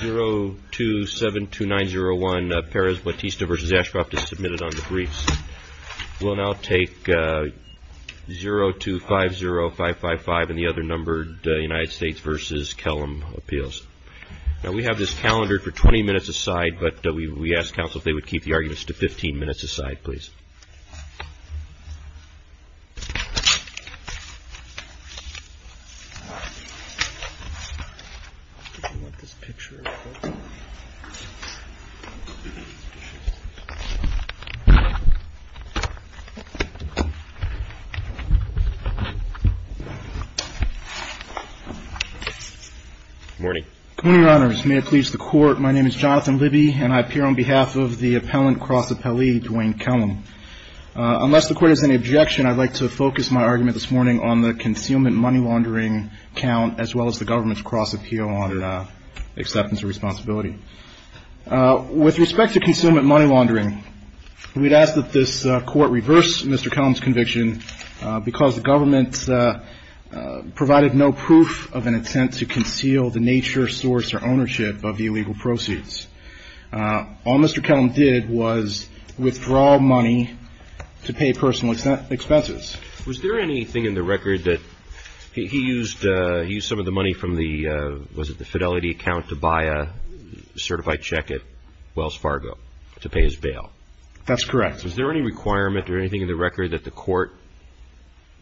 0272901 Perez-Batista v. Ashcroft is submitted on the briefs. We'll now take 0250555 and the other numbered United States v. Kellum appeals. Now we have this calendared for 20 minutes. Good morning. Good morning, Your Honors. May it please the Court, my name is Jonathan Libby and I appear on behalf of the appellant cross appellee, Duane Kellum. Unless the Court has any objection, I'd like to focus my argument this morning on the concealment money laundering count as well as the government's cross appeal on acceptance of responsibility. With respect to concealment money laundering, we'd ask that this Court reverse Mr. Kellum's conviction because the government provided no proof of an intent to conceal the nature, source, or ownership of the illegal proceeds. All Mr. Kellum did was withdraw money to pay personal expenses. Was there anything in the record that he used some of the money from the, was it the Fidelity account, to buy a certified check at Wells Fargo to pay his bail? That's correct. Was there any requirement or anything in the record that the Court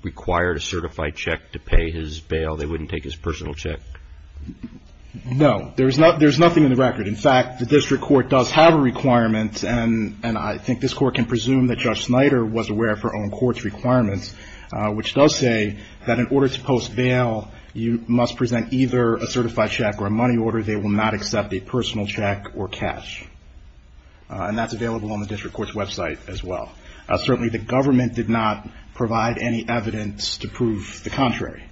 required a certified check to pay his bail? They wouldn't take his personal check? No, there's nothing in the record. In fact, the district court does have a requirement and I think this Court can presume that Judge Snyder was aware of her own court's requirements, which does say that in order to post bail, you must present either a certified check or a money order. They will not accept a personal check or cash. And that's available on the district court's website as well. Certainly the government did not provide any evidence to prove the contrary.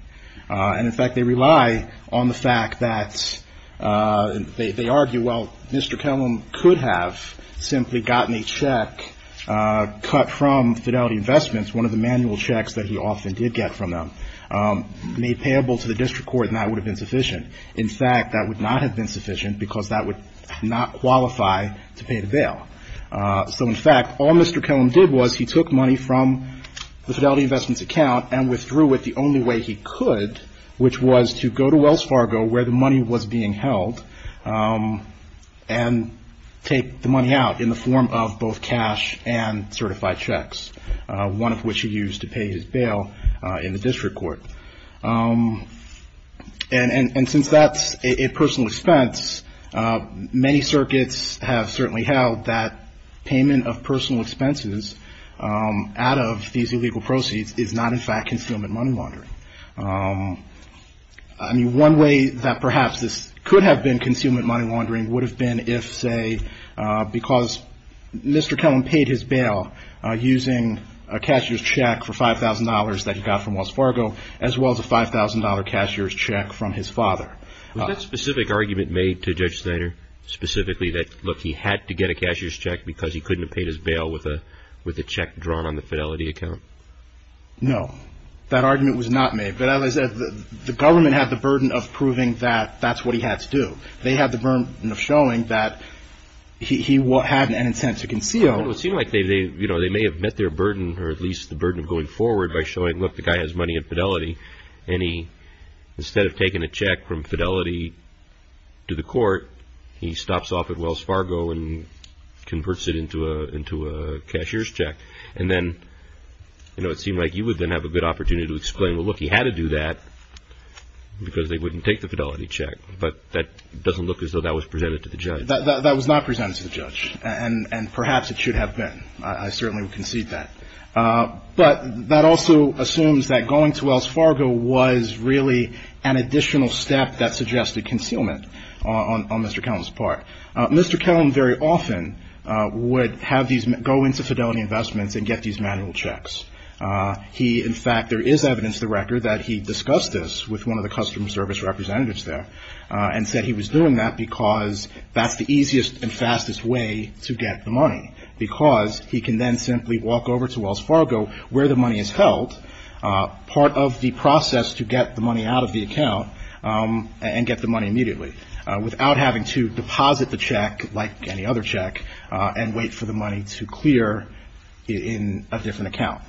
And in fact, they rely on the fact that they argue, well, Mr. Kellum could have simply gotten a check cut from Fidelity Investments, one of the manual checks that he often did get from them, made payable to the district court and that would have been sufficient. In fact, that would not have been sufficient because that would not qualify to pay the bail. So in fact, all Mr. Kellum did was he took money from the Fidelity Investments account and withdrew it the only way he could, which was to go to Wells Fargo, where the money was being held, and take the money out in the form of both cash and certified checks, one of which he used to pay his bail in the district court. And since that's a personal expense, many circuits have certainly held that payment of personal expenses out of these illegal proceeds is not in fact concealment money laundering. I mean, one way that perhaps this could have been concealment money laundering would have been if, say, because Mr. Kellum paid his bail using a cashier's check for $5,000 that he got from Wells Fargo, as well as a $5,000 cashier's check from his father. Was that specific argument made to Judge Snyder, specifically that, look, he had to get a cashier's check because he couldn't have paid his bail with a check drawn on the Fidelity account? No, that argument was not made. But as I said, the government had the burden of proving that that's what he had to do. They had the burden of showing that he had an intent to conceal. Well, it seemed like they may have met their burden, or at least the burden of going forward by showing, look, the guy has money in Fidelity, and he, instead of taking a check from Fidelity to the court, he stops off at Wells Fargo and converts it into a cashier's check. And then it seemed like you would then have a good opportunity to explain, well, look, he had to do that because they wouldn't take the Fidelity check. But that doesn't look as though that was presented to the judge. That was not presented to the judge, and perhaps it should have been. I certainly would concede that. But that also assumes that going to Wells Fargo was really an additional step that suggested concealment on Mr. Kellum's part. Mr. Kellum very often would have these go into Fidelity Investments and get these manual checks. He, in fact, there is evidence to the record that he discussed this with one of the customer service representatives there and said he was doing that because that's the easiest and fastest way to get the money, because he can then simply walk over to Wells Fargo, where the money is held, part of the process to get the money out of the account and get the money immediately, without having to deposit the check like any other check and wait for the money to clear in a different account.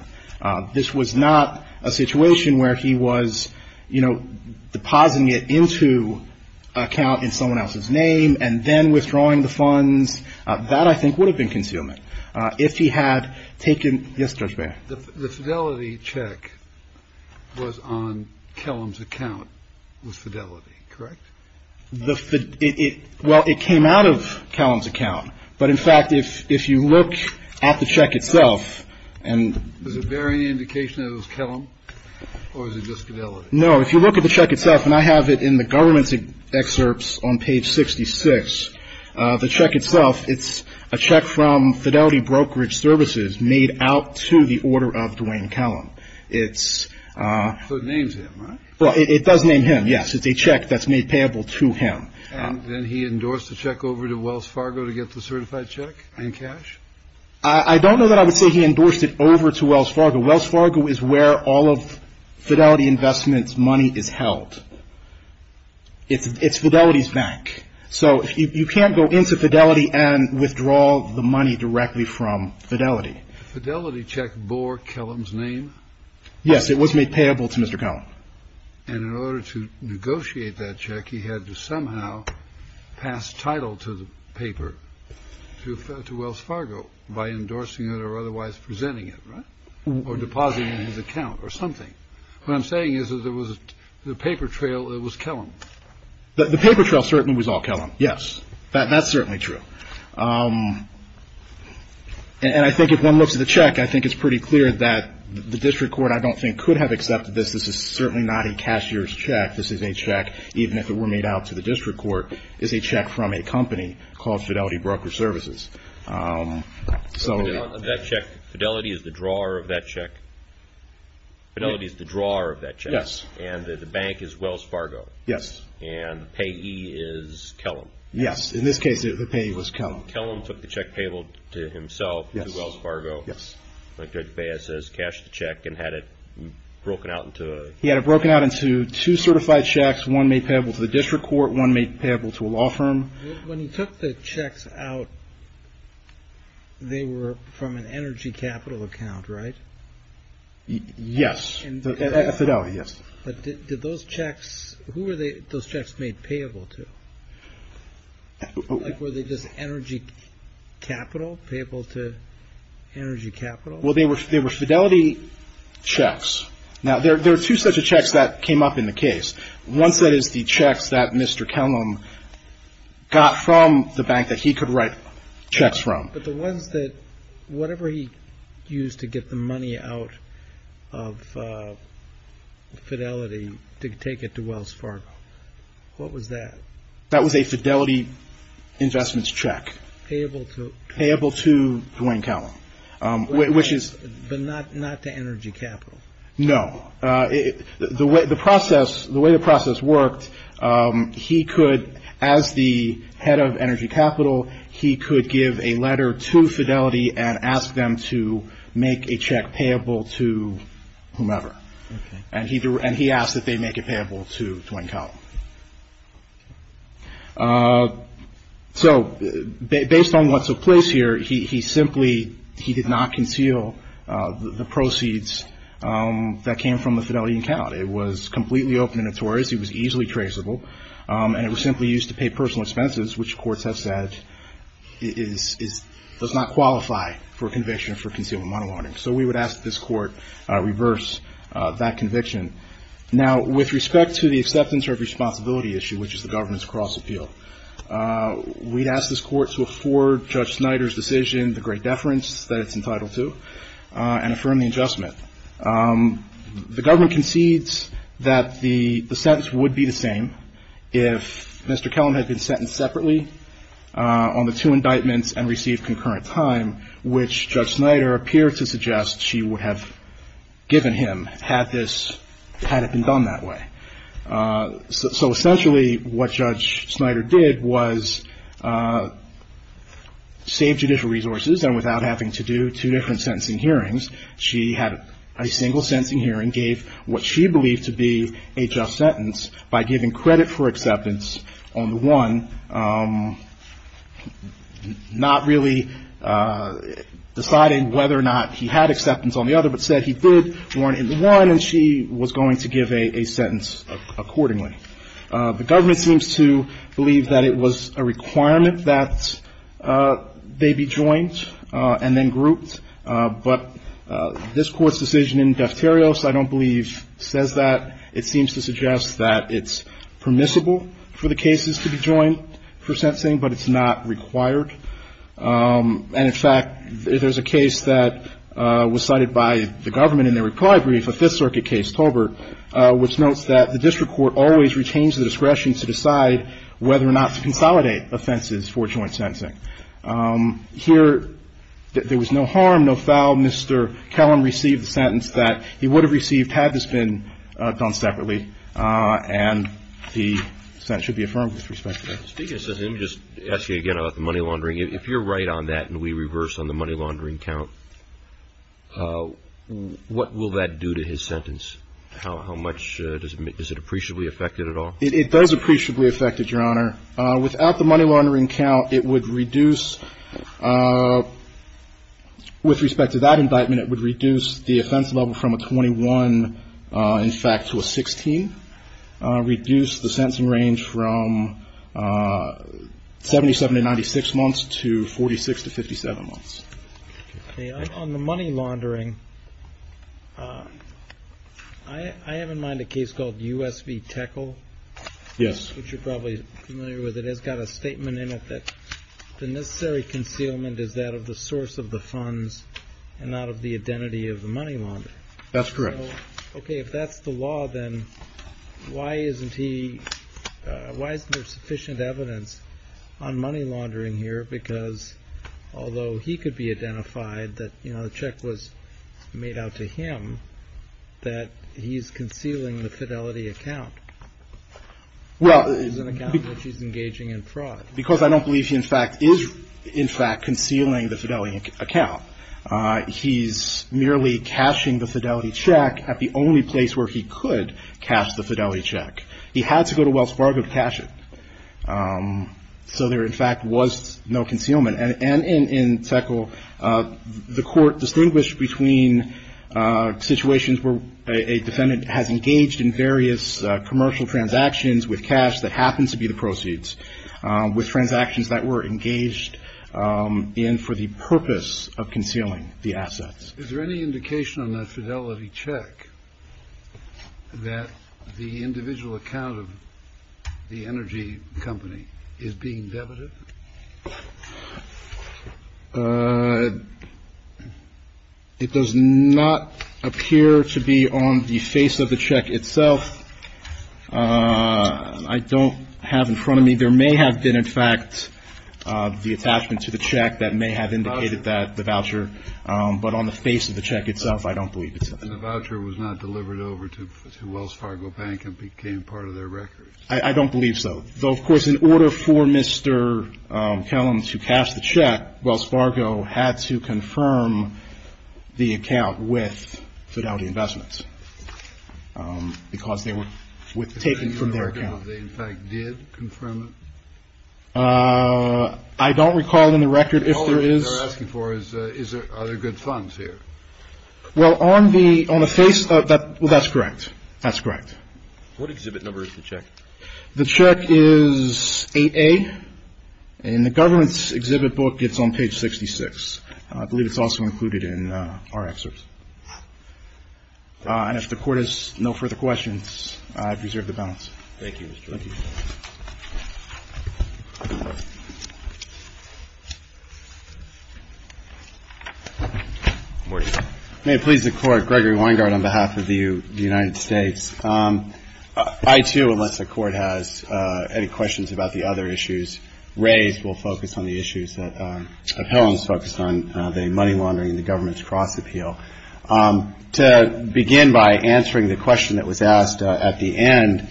This was not a situation where he was, you know, depositing it into an account in someone else's name and then withdrawing the funds. That, I think, would have been concealment. If he had taken the Fidelity check was on Kellum's account with Fidelity, correct? Well, it came out of Kellum's account. But, in fact, if you look at the check itself and Does it bear any indication that it was Kellum? Or is it just fidelity? No. If you look at the check itself, and I have it in the government's excerpts on page 66, the check itself, it's a check from Fidelity Brokerage Services made out to the order of Duane Kellum. It's So it names him, right? Well, it does name him, yes. It's a check that's made payable to him. And then he endorsed the check over to Wells Fargo to get the certified check in cash? I don't know that I would say he endorsed it over to Wells Fargo. Wells Fargo is where all of Fidelity Investments' money is held. It's Fidelity's bank. So you can't go into Fidelity and withdraw the money directly from Fidelity. The Fidelity check bore Kellum's name? Yes. It was made payable to Mr. Kellum. And in order to negotiate that check, he had to somehow pass title to the paper to Wells Fargo by endorsing it or otherwise presenting it, right? Or depositing it in his account or something. What I'm saying is that there was a paper trail that was Kellum. The paper trail certainly was all Kellum, yes. That's certainly true. And I think if one looks at the check, I think it's pretty clear that the district court, I don't think, could have accepted this. This is certainly not a cashier's check. This is a check, even if it were made out to the district court, is a check from a company called Fidelity Broker Services. So Fidelity is the drawer of that check? Yes. Fidelity is the drawer of that check? Yes. And the bank is Wells Fargo? Yes. And the payee is Kellum? Yes. In this case, the payee was Kellum. Kellum took the check payable to himself to Wells Fargo, like Judge Baez says, cashed the check and had it broken out into a... He had it broken out into two certified checks. One made payable to the district court. One made payable to a law firm. When he took the checks out, they were from an energy capital account, right? Yes. At Fidelity, yes. But did those checks, who were those checks made payable to? Like, were they just energy capital, payable to energy capital? Well, they were Fidelity checks. Now, there are two sets of checks that came up in the bank that he could write checks from. But the ones that, whatever he used to get the money out of Fidelity to take it to Wells Fargo, what was that? That was a Fidelity investments check. Payable to? Payable to Duane Kellum, which is... But not to energy capital? No. The way the process worked, he could, as the head of energy capital, he could give a letter to Fidelity and ask them to make a check payable to whomever. And he asked that they make it payable to Duane Kellum. So, based on what took place here, he simply, he did not conceal the proceeds that came from the Fidelity account. It was completely open and notorious. It was easily traceable. And it was simply used to pay personal expenses, which courts have said is, does not qualify for conviction for concealment money laundering. So we would ask that this court reverse that conviction. Now, with respect to the acceptance or responsibility issue, which is the government's cross-appeal, we'd ask this court to afford Judge Snyder's decision, the great deference that it's entitled to, and affirm the adjustment. The government concedes that the sentence would be the same if Mr. Kellum had been sentenced separately on the two indictments and received concurrent time, which Judge Snyder did not, had it been done that way. So essentially, what Judge Snyder did was save judicial resources, and without having to do two different sentencing hearings, she had a single sentencing hearing, gave what she believed to be a just sentence by giving credit for acceptance on the one, not really deciding whether or not he had going to give a sentence accordingly. The government seems to believe that it was a requirement that they be joined and then grouped, but this Court's decision in deuterios, I don't believe, says that. It seems to suggest that it's permissible for the cases to be joined for sentencing, but it's not required. And, in fact, there's a case that was cited by the government in their reply brief, a which notes that the district court always retains the discretion to decide whether or not to consolidate offenses for joint sentencing. Here, there was no harm, no foul. Mr. Kellum received the sentence that he would have received had this been done separately, and the sentence should be affirmed with respect to that. Speaking of sentencing, let me just ask you again about the money laundering. If you're right on that and we reverse on the money laundering count, what will that do to his sentence? How much does it – is it appreciably affected at all? It does appreciably affect it, Your Honor. Without the money laundering count, it would reduce – with respect to that indictment, it would reduce the offense level from a 21, in fact, to a 16, reduce the sentencing range from 77 to 96 months to 46 to 57 months. On the money laundering, I have in mind a case called U.S. v. Teckle. Yes. Which you're probably familiar with. It has got a statement in it that the necessary concealment is that of the source of the funds and not of the identity of the money launderer. That's correct. Okay, if that's the law, then why isn't he – why isn't there sufficient evidence on money laundering here? Because although he could be identified that, you know, the check was made out to him, that he's concealing the Fidelity account. Well – It's an account that he's engaging in fraud. Because I don't believe he, in fact, is, in fact, concealing the Fidelity account. He's merely cashing the Fidelity check at the only place where he could cash the Fidelity check. He had to go to Wells Fargo to cash it. So there, in fact, was no concealment. And in Teckle, the court distinguished between situations where a defendant has engaged in various commercial transactions with cash that happened to be the proceeds, with transactions that were engaged in for the purpose of concealing the assets. Is there any indication on the Fidelity check that the individual account of the energy company is being debited? It does not appear to be on the face of the check itself. I don't have in front of me – there may have been, in fact, the attachment to the I don't believe it's on the – And the voucher was not delivered over to Wells Fargo Bank and became part of their records. I don't believe so. Though, of course, in order for Mr. Kellams to cash the check, Wells Fargo had to confirm the account with Fidelity Investments, because they were taken from their account. Is there any record of they, in fact, did confirm it? I don't recall in the record if there is – Are there good funds here? Well, on the face – well, that's correct. That's correct. What exhibit number is the check? The check is 8A. In the government's exhibit book, it's on page 66. I believe it's also included in our excerpts. And if the Court has no further questions, I preserve the balance. Thank you, Mr. Kellams. Thank you. Good morning. May it please the Court, Gregory Weingart on behalf of the United States. I, too, unless the Court has any questions about the other issues raised, will focus on the issues that – that Kellams focused on, the money laundering and the government's cross-appeal. To begin by answering the question that was asked at the end,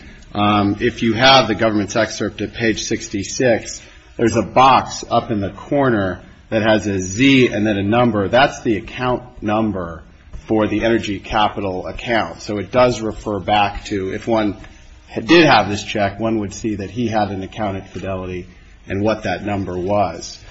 if you have the government's excerpt at page 66, there's a box up in the corner that has a Z and then a number. That's the account number for the energy capital account. So it does refer back to – if one did have this check, one would see that he had an account at Fidelity and what that number was.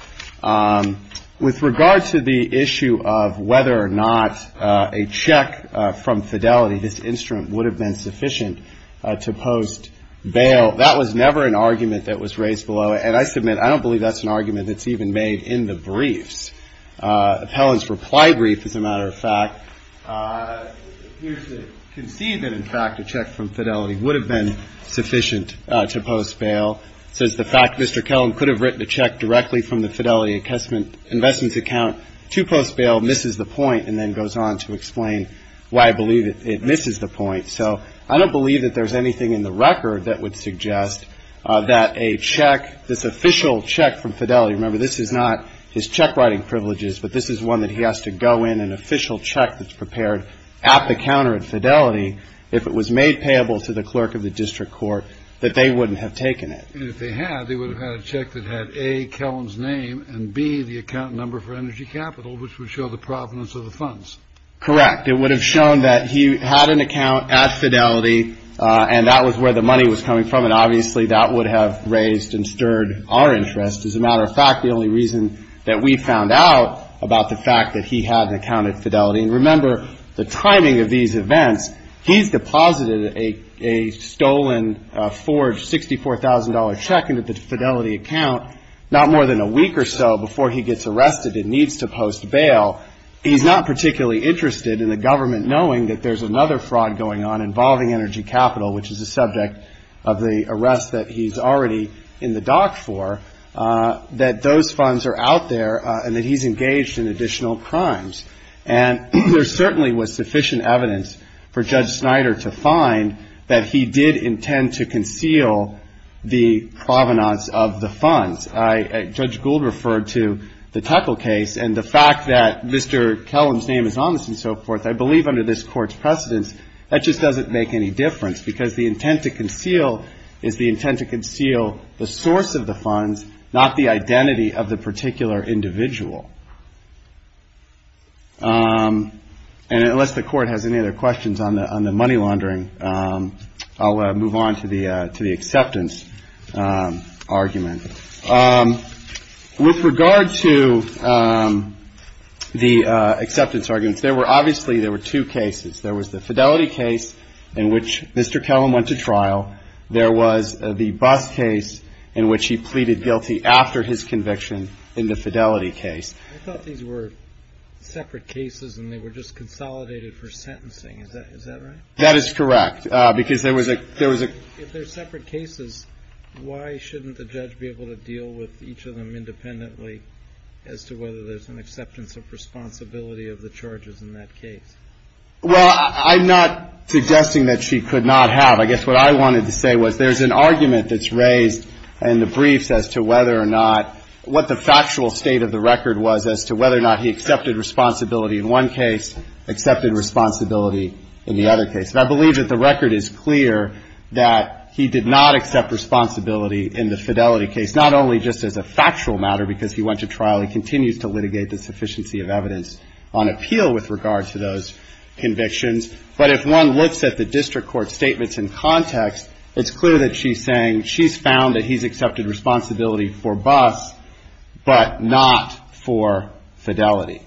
With regard to the issue of whether or not a check from Fidelity, this instrument, would have been sufficient to post bail, that was never an argument that was raised below. And I submit, I don't believe that's an argument that's even made in the briefs. Appellant's reply brief, as a matter of fact, appears to concede that, in fact, a check from Fidelity would have been sufficient to post bail. It says, the fact Mr. Kellam could have written a check directly from the Fidelity investment account to post bail misses the point, and then goes on to explain why I believe it misses the point. So I don't believe that there's anything in the record that would suggest that a check, this official check from Fidelity – remember, this is not his check-writing privileges, but this is one that he has to go in, an official check that's prepared at the counter at Fidelity, if it was made payable to the clerk of the district court, that they wouldn't have taken it. And if they had, they would have had a check that had A, Kellam's name, and B, the account number for energy capital, which would show the provenance of the funds. Correct. It would have shown that he had an account at Fidelity, and that was where the money was coming from, and obviously that would have raised and stirred our interest. As a matter of fact, the only reason that we found out about the fact that he had an account at Fidelity – and remember, the timing of these events, he's deposited a $54,000 check into the Fidelity account not more than a week or so before he gets arrested and needs to post bail. He's not particularly interested in the government knowing that there's another fraud going on involving energy capital, which is a subject of the arrest that he's already in the dock for, that those funds are out there and that he's engaged in additional crimes. And there certainly was sufficient evidence for Judge Snyder to find that he did intend to conceal the provenance of the funds. I – Judge Gould referred to the Teckle case, and the fact that Mr. Kellam's name is on this and so forth, I believe under this Court's precedence, that just doesn't make any difference, because the intent to conceal is the intent to conceal the source of the funds, not the identity of the particular individual. And unless the Court has any other questions on the money laundering, I'll move on to the acceptance argument. With regard to the acceptance arguments, there were – obviously, there were two cases. There was the Fidelity case in which Mr. Kellam went to trial. There was the Buss case in which he pleaded guilty after his conviction in the Fidelity case. I thought these were separate cases and they were just consolidated for sentencing. Is that right? That is correct, because there was a – If they're separate cases, why shouldn't the judge be able to deal with each of them independently as to whether there's an acceptance of responsibility of the charges in that case? Well, I'm not suggesting that she could not have. I guess what I wanted to say was there's an argument that's raised in the briefs as to whether or not – what the factual state of the record was as to whether or not he accepted responsibility in one case, accepted responsibility in the other case. And I believe that the record is clear that he did not accept responsibility in the Fidelity case, not only just as a factual matter because he went to trial. He continues to litigate the sufficiency of evidence on appeal with regard to those convictions. But if one looks at the district court statements in context, it's clear that she's saying she's found that he's accepted responsibility for Buss, but not for Fidelity.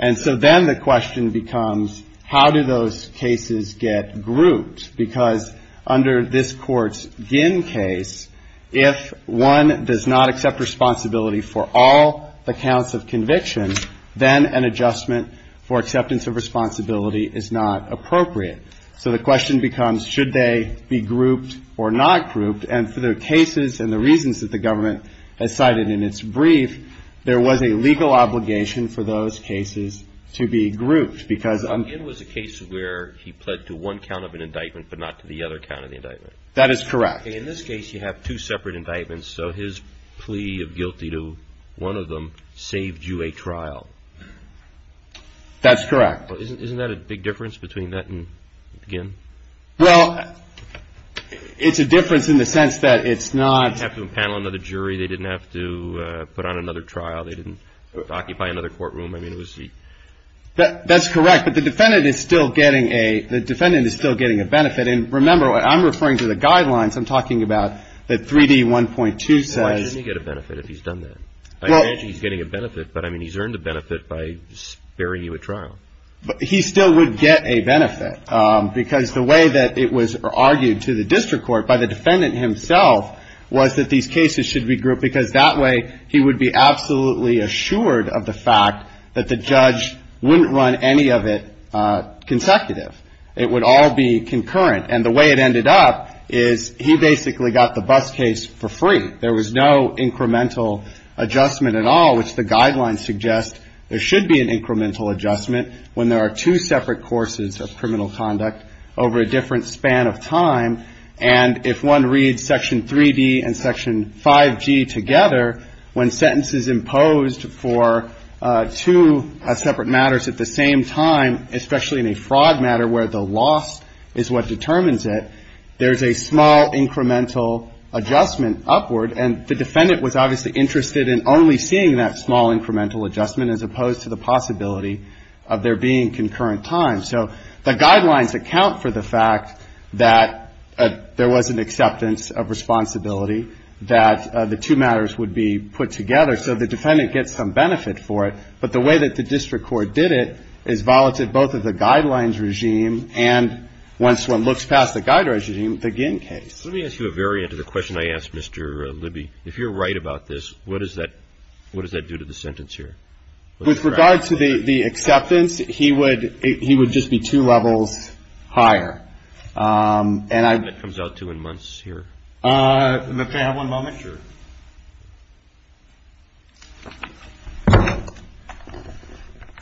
And so then the question becomes, how do those cases get grouped? Because under this Court's Ginn case, if one does not accept responsibility for all the counts of conviction, then an adjustment for acceptance of responsibility is not appropriate. So the question becomes, should they be grouped or not grouped? And for the cases and the reasons that the government has cited in its brief, there was a legal obligation for those cases to be grouped because I'm. It was a case where he pled to one count of an indictment, but not to the other count of the indictment. That is correct. In this case, you have two separate indictments. So his plea of guilty to one of them saved you a trial. That's correct. Isn't that a big difference between that and Ginn? Well, it's a difference in the sense that it's not. They didn't have to impanel another jury. They didn't have to put on another trial. They didn't occupy another courtroom. That's correct, but the defendant is still getting a benefit. And remember, I'm referring to the guidelines. I'm talking about the 3D1.2 says. He's getting a benefit, but he's earned a benefit by sparing you a trial. But he still would get a benefit because the way that it was argued to the district court by the defendant himself was that these cases should be grouped because that way he would be absolutely assured of the fact that the judge wouldn't run any of it consecutive. It would all be concurrent. And the way it ended up is he basically got the bus case for free. There was no incremental adjustment at all, which the guidelines suggest there should be an incremental adjustment when there are two separate courses of criminal conduct over a different span of time. And if one reads Section 3D and Section 5G together, when sentences imposed for two separate matters at the same time, especially in a fraud matter where the loss is what determines it, there's a small incremental adjustment upward. And the defendant was obviously interested in only seeing that small incremental adjustment as opposed to the possibility of there being there was an acceptance of responsibility that the two matters would be put together. So the defendant gets some benefit for it. But the way that the district court did it is violated both of the guidelines regime and once one looks past the guidelines regime, the Ginn case. Let me ask you a variant of the question I asked, Mr. Libby. If you're right about this, what does that do to the sentence here? With regard to the acceptance, he would just be two levels higher. And I...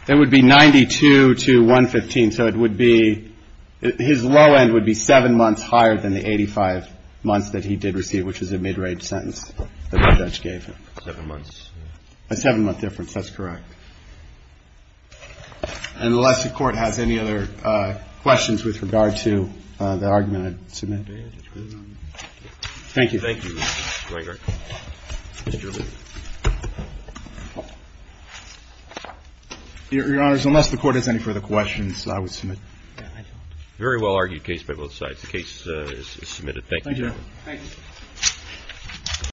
It would be 92 to 115. So it would be, his low end would be seven months higher than the 85 months that he did receive, which is a mid-range sentence that the judge gave him. A seven-month difference, that's correct. Unless the Court has any other questions with regard to the argument I submitted. Thank you. Your Honors, unless the Court has any further questions, I would submit. Very well argued case by both sides. The case is submitted.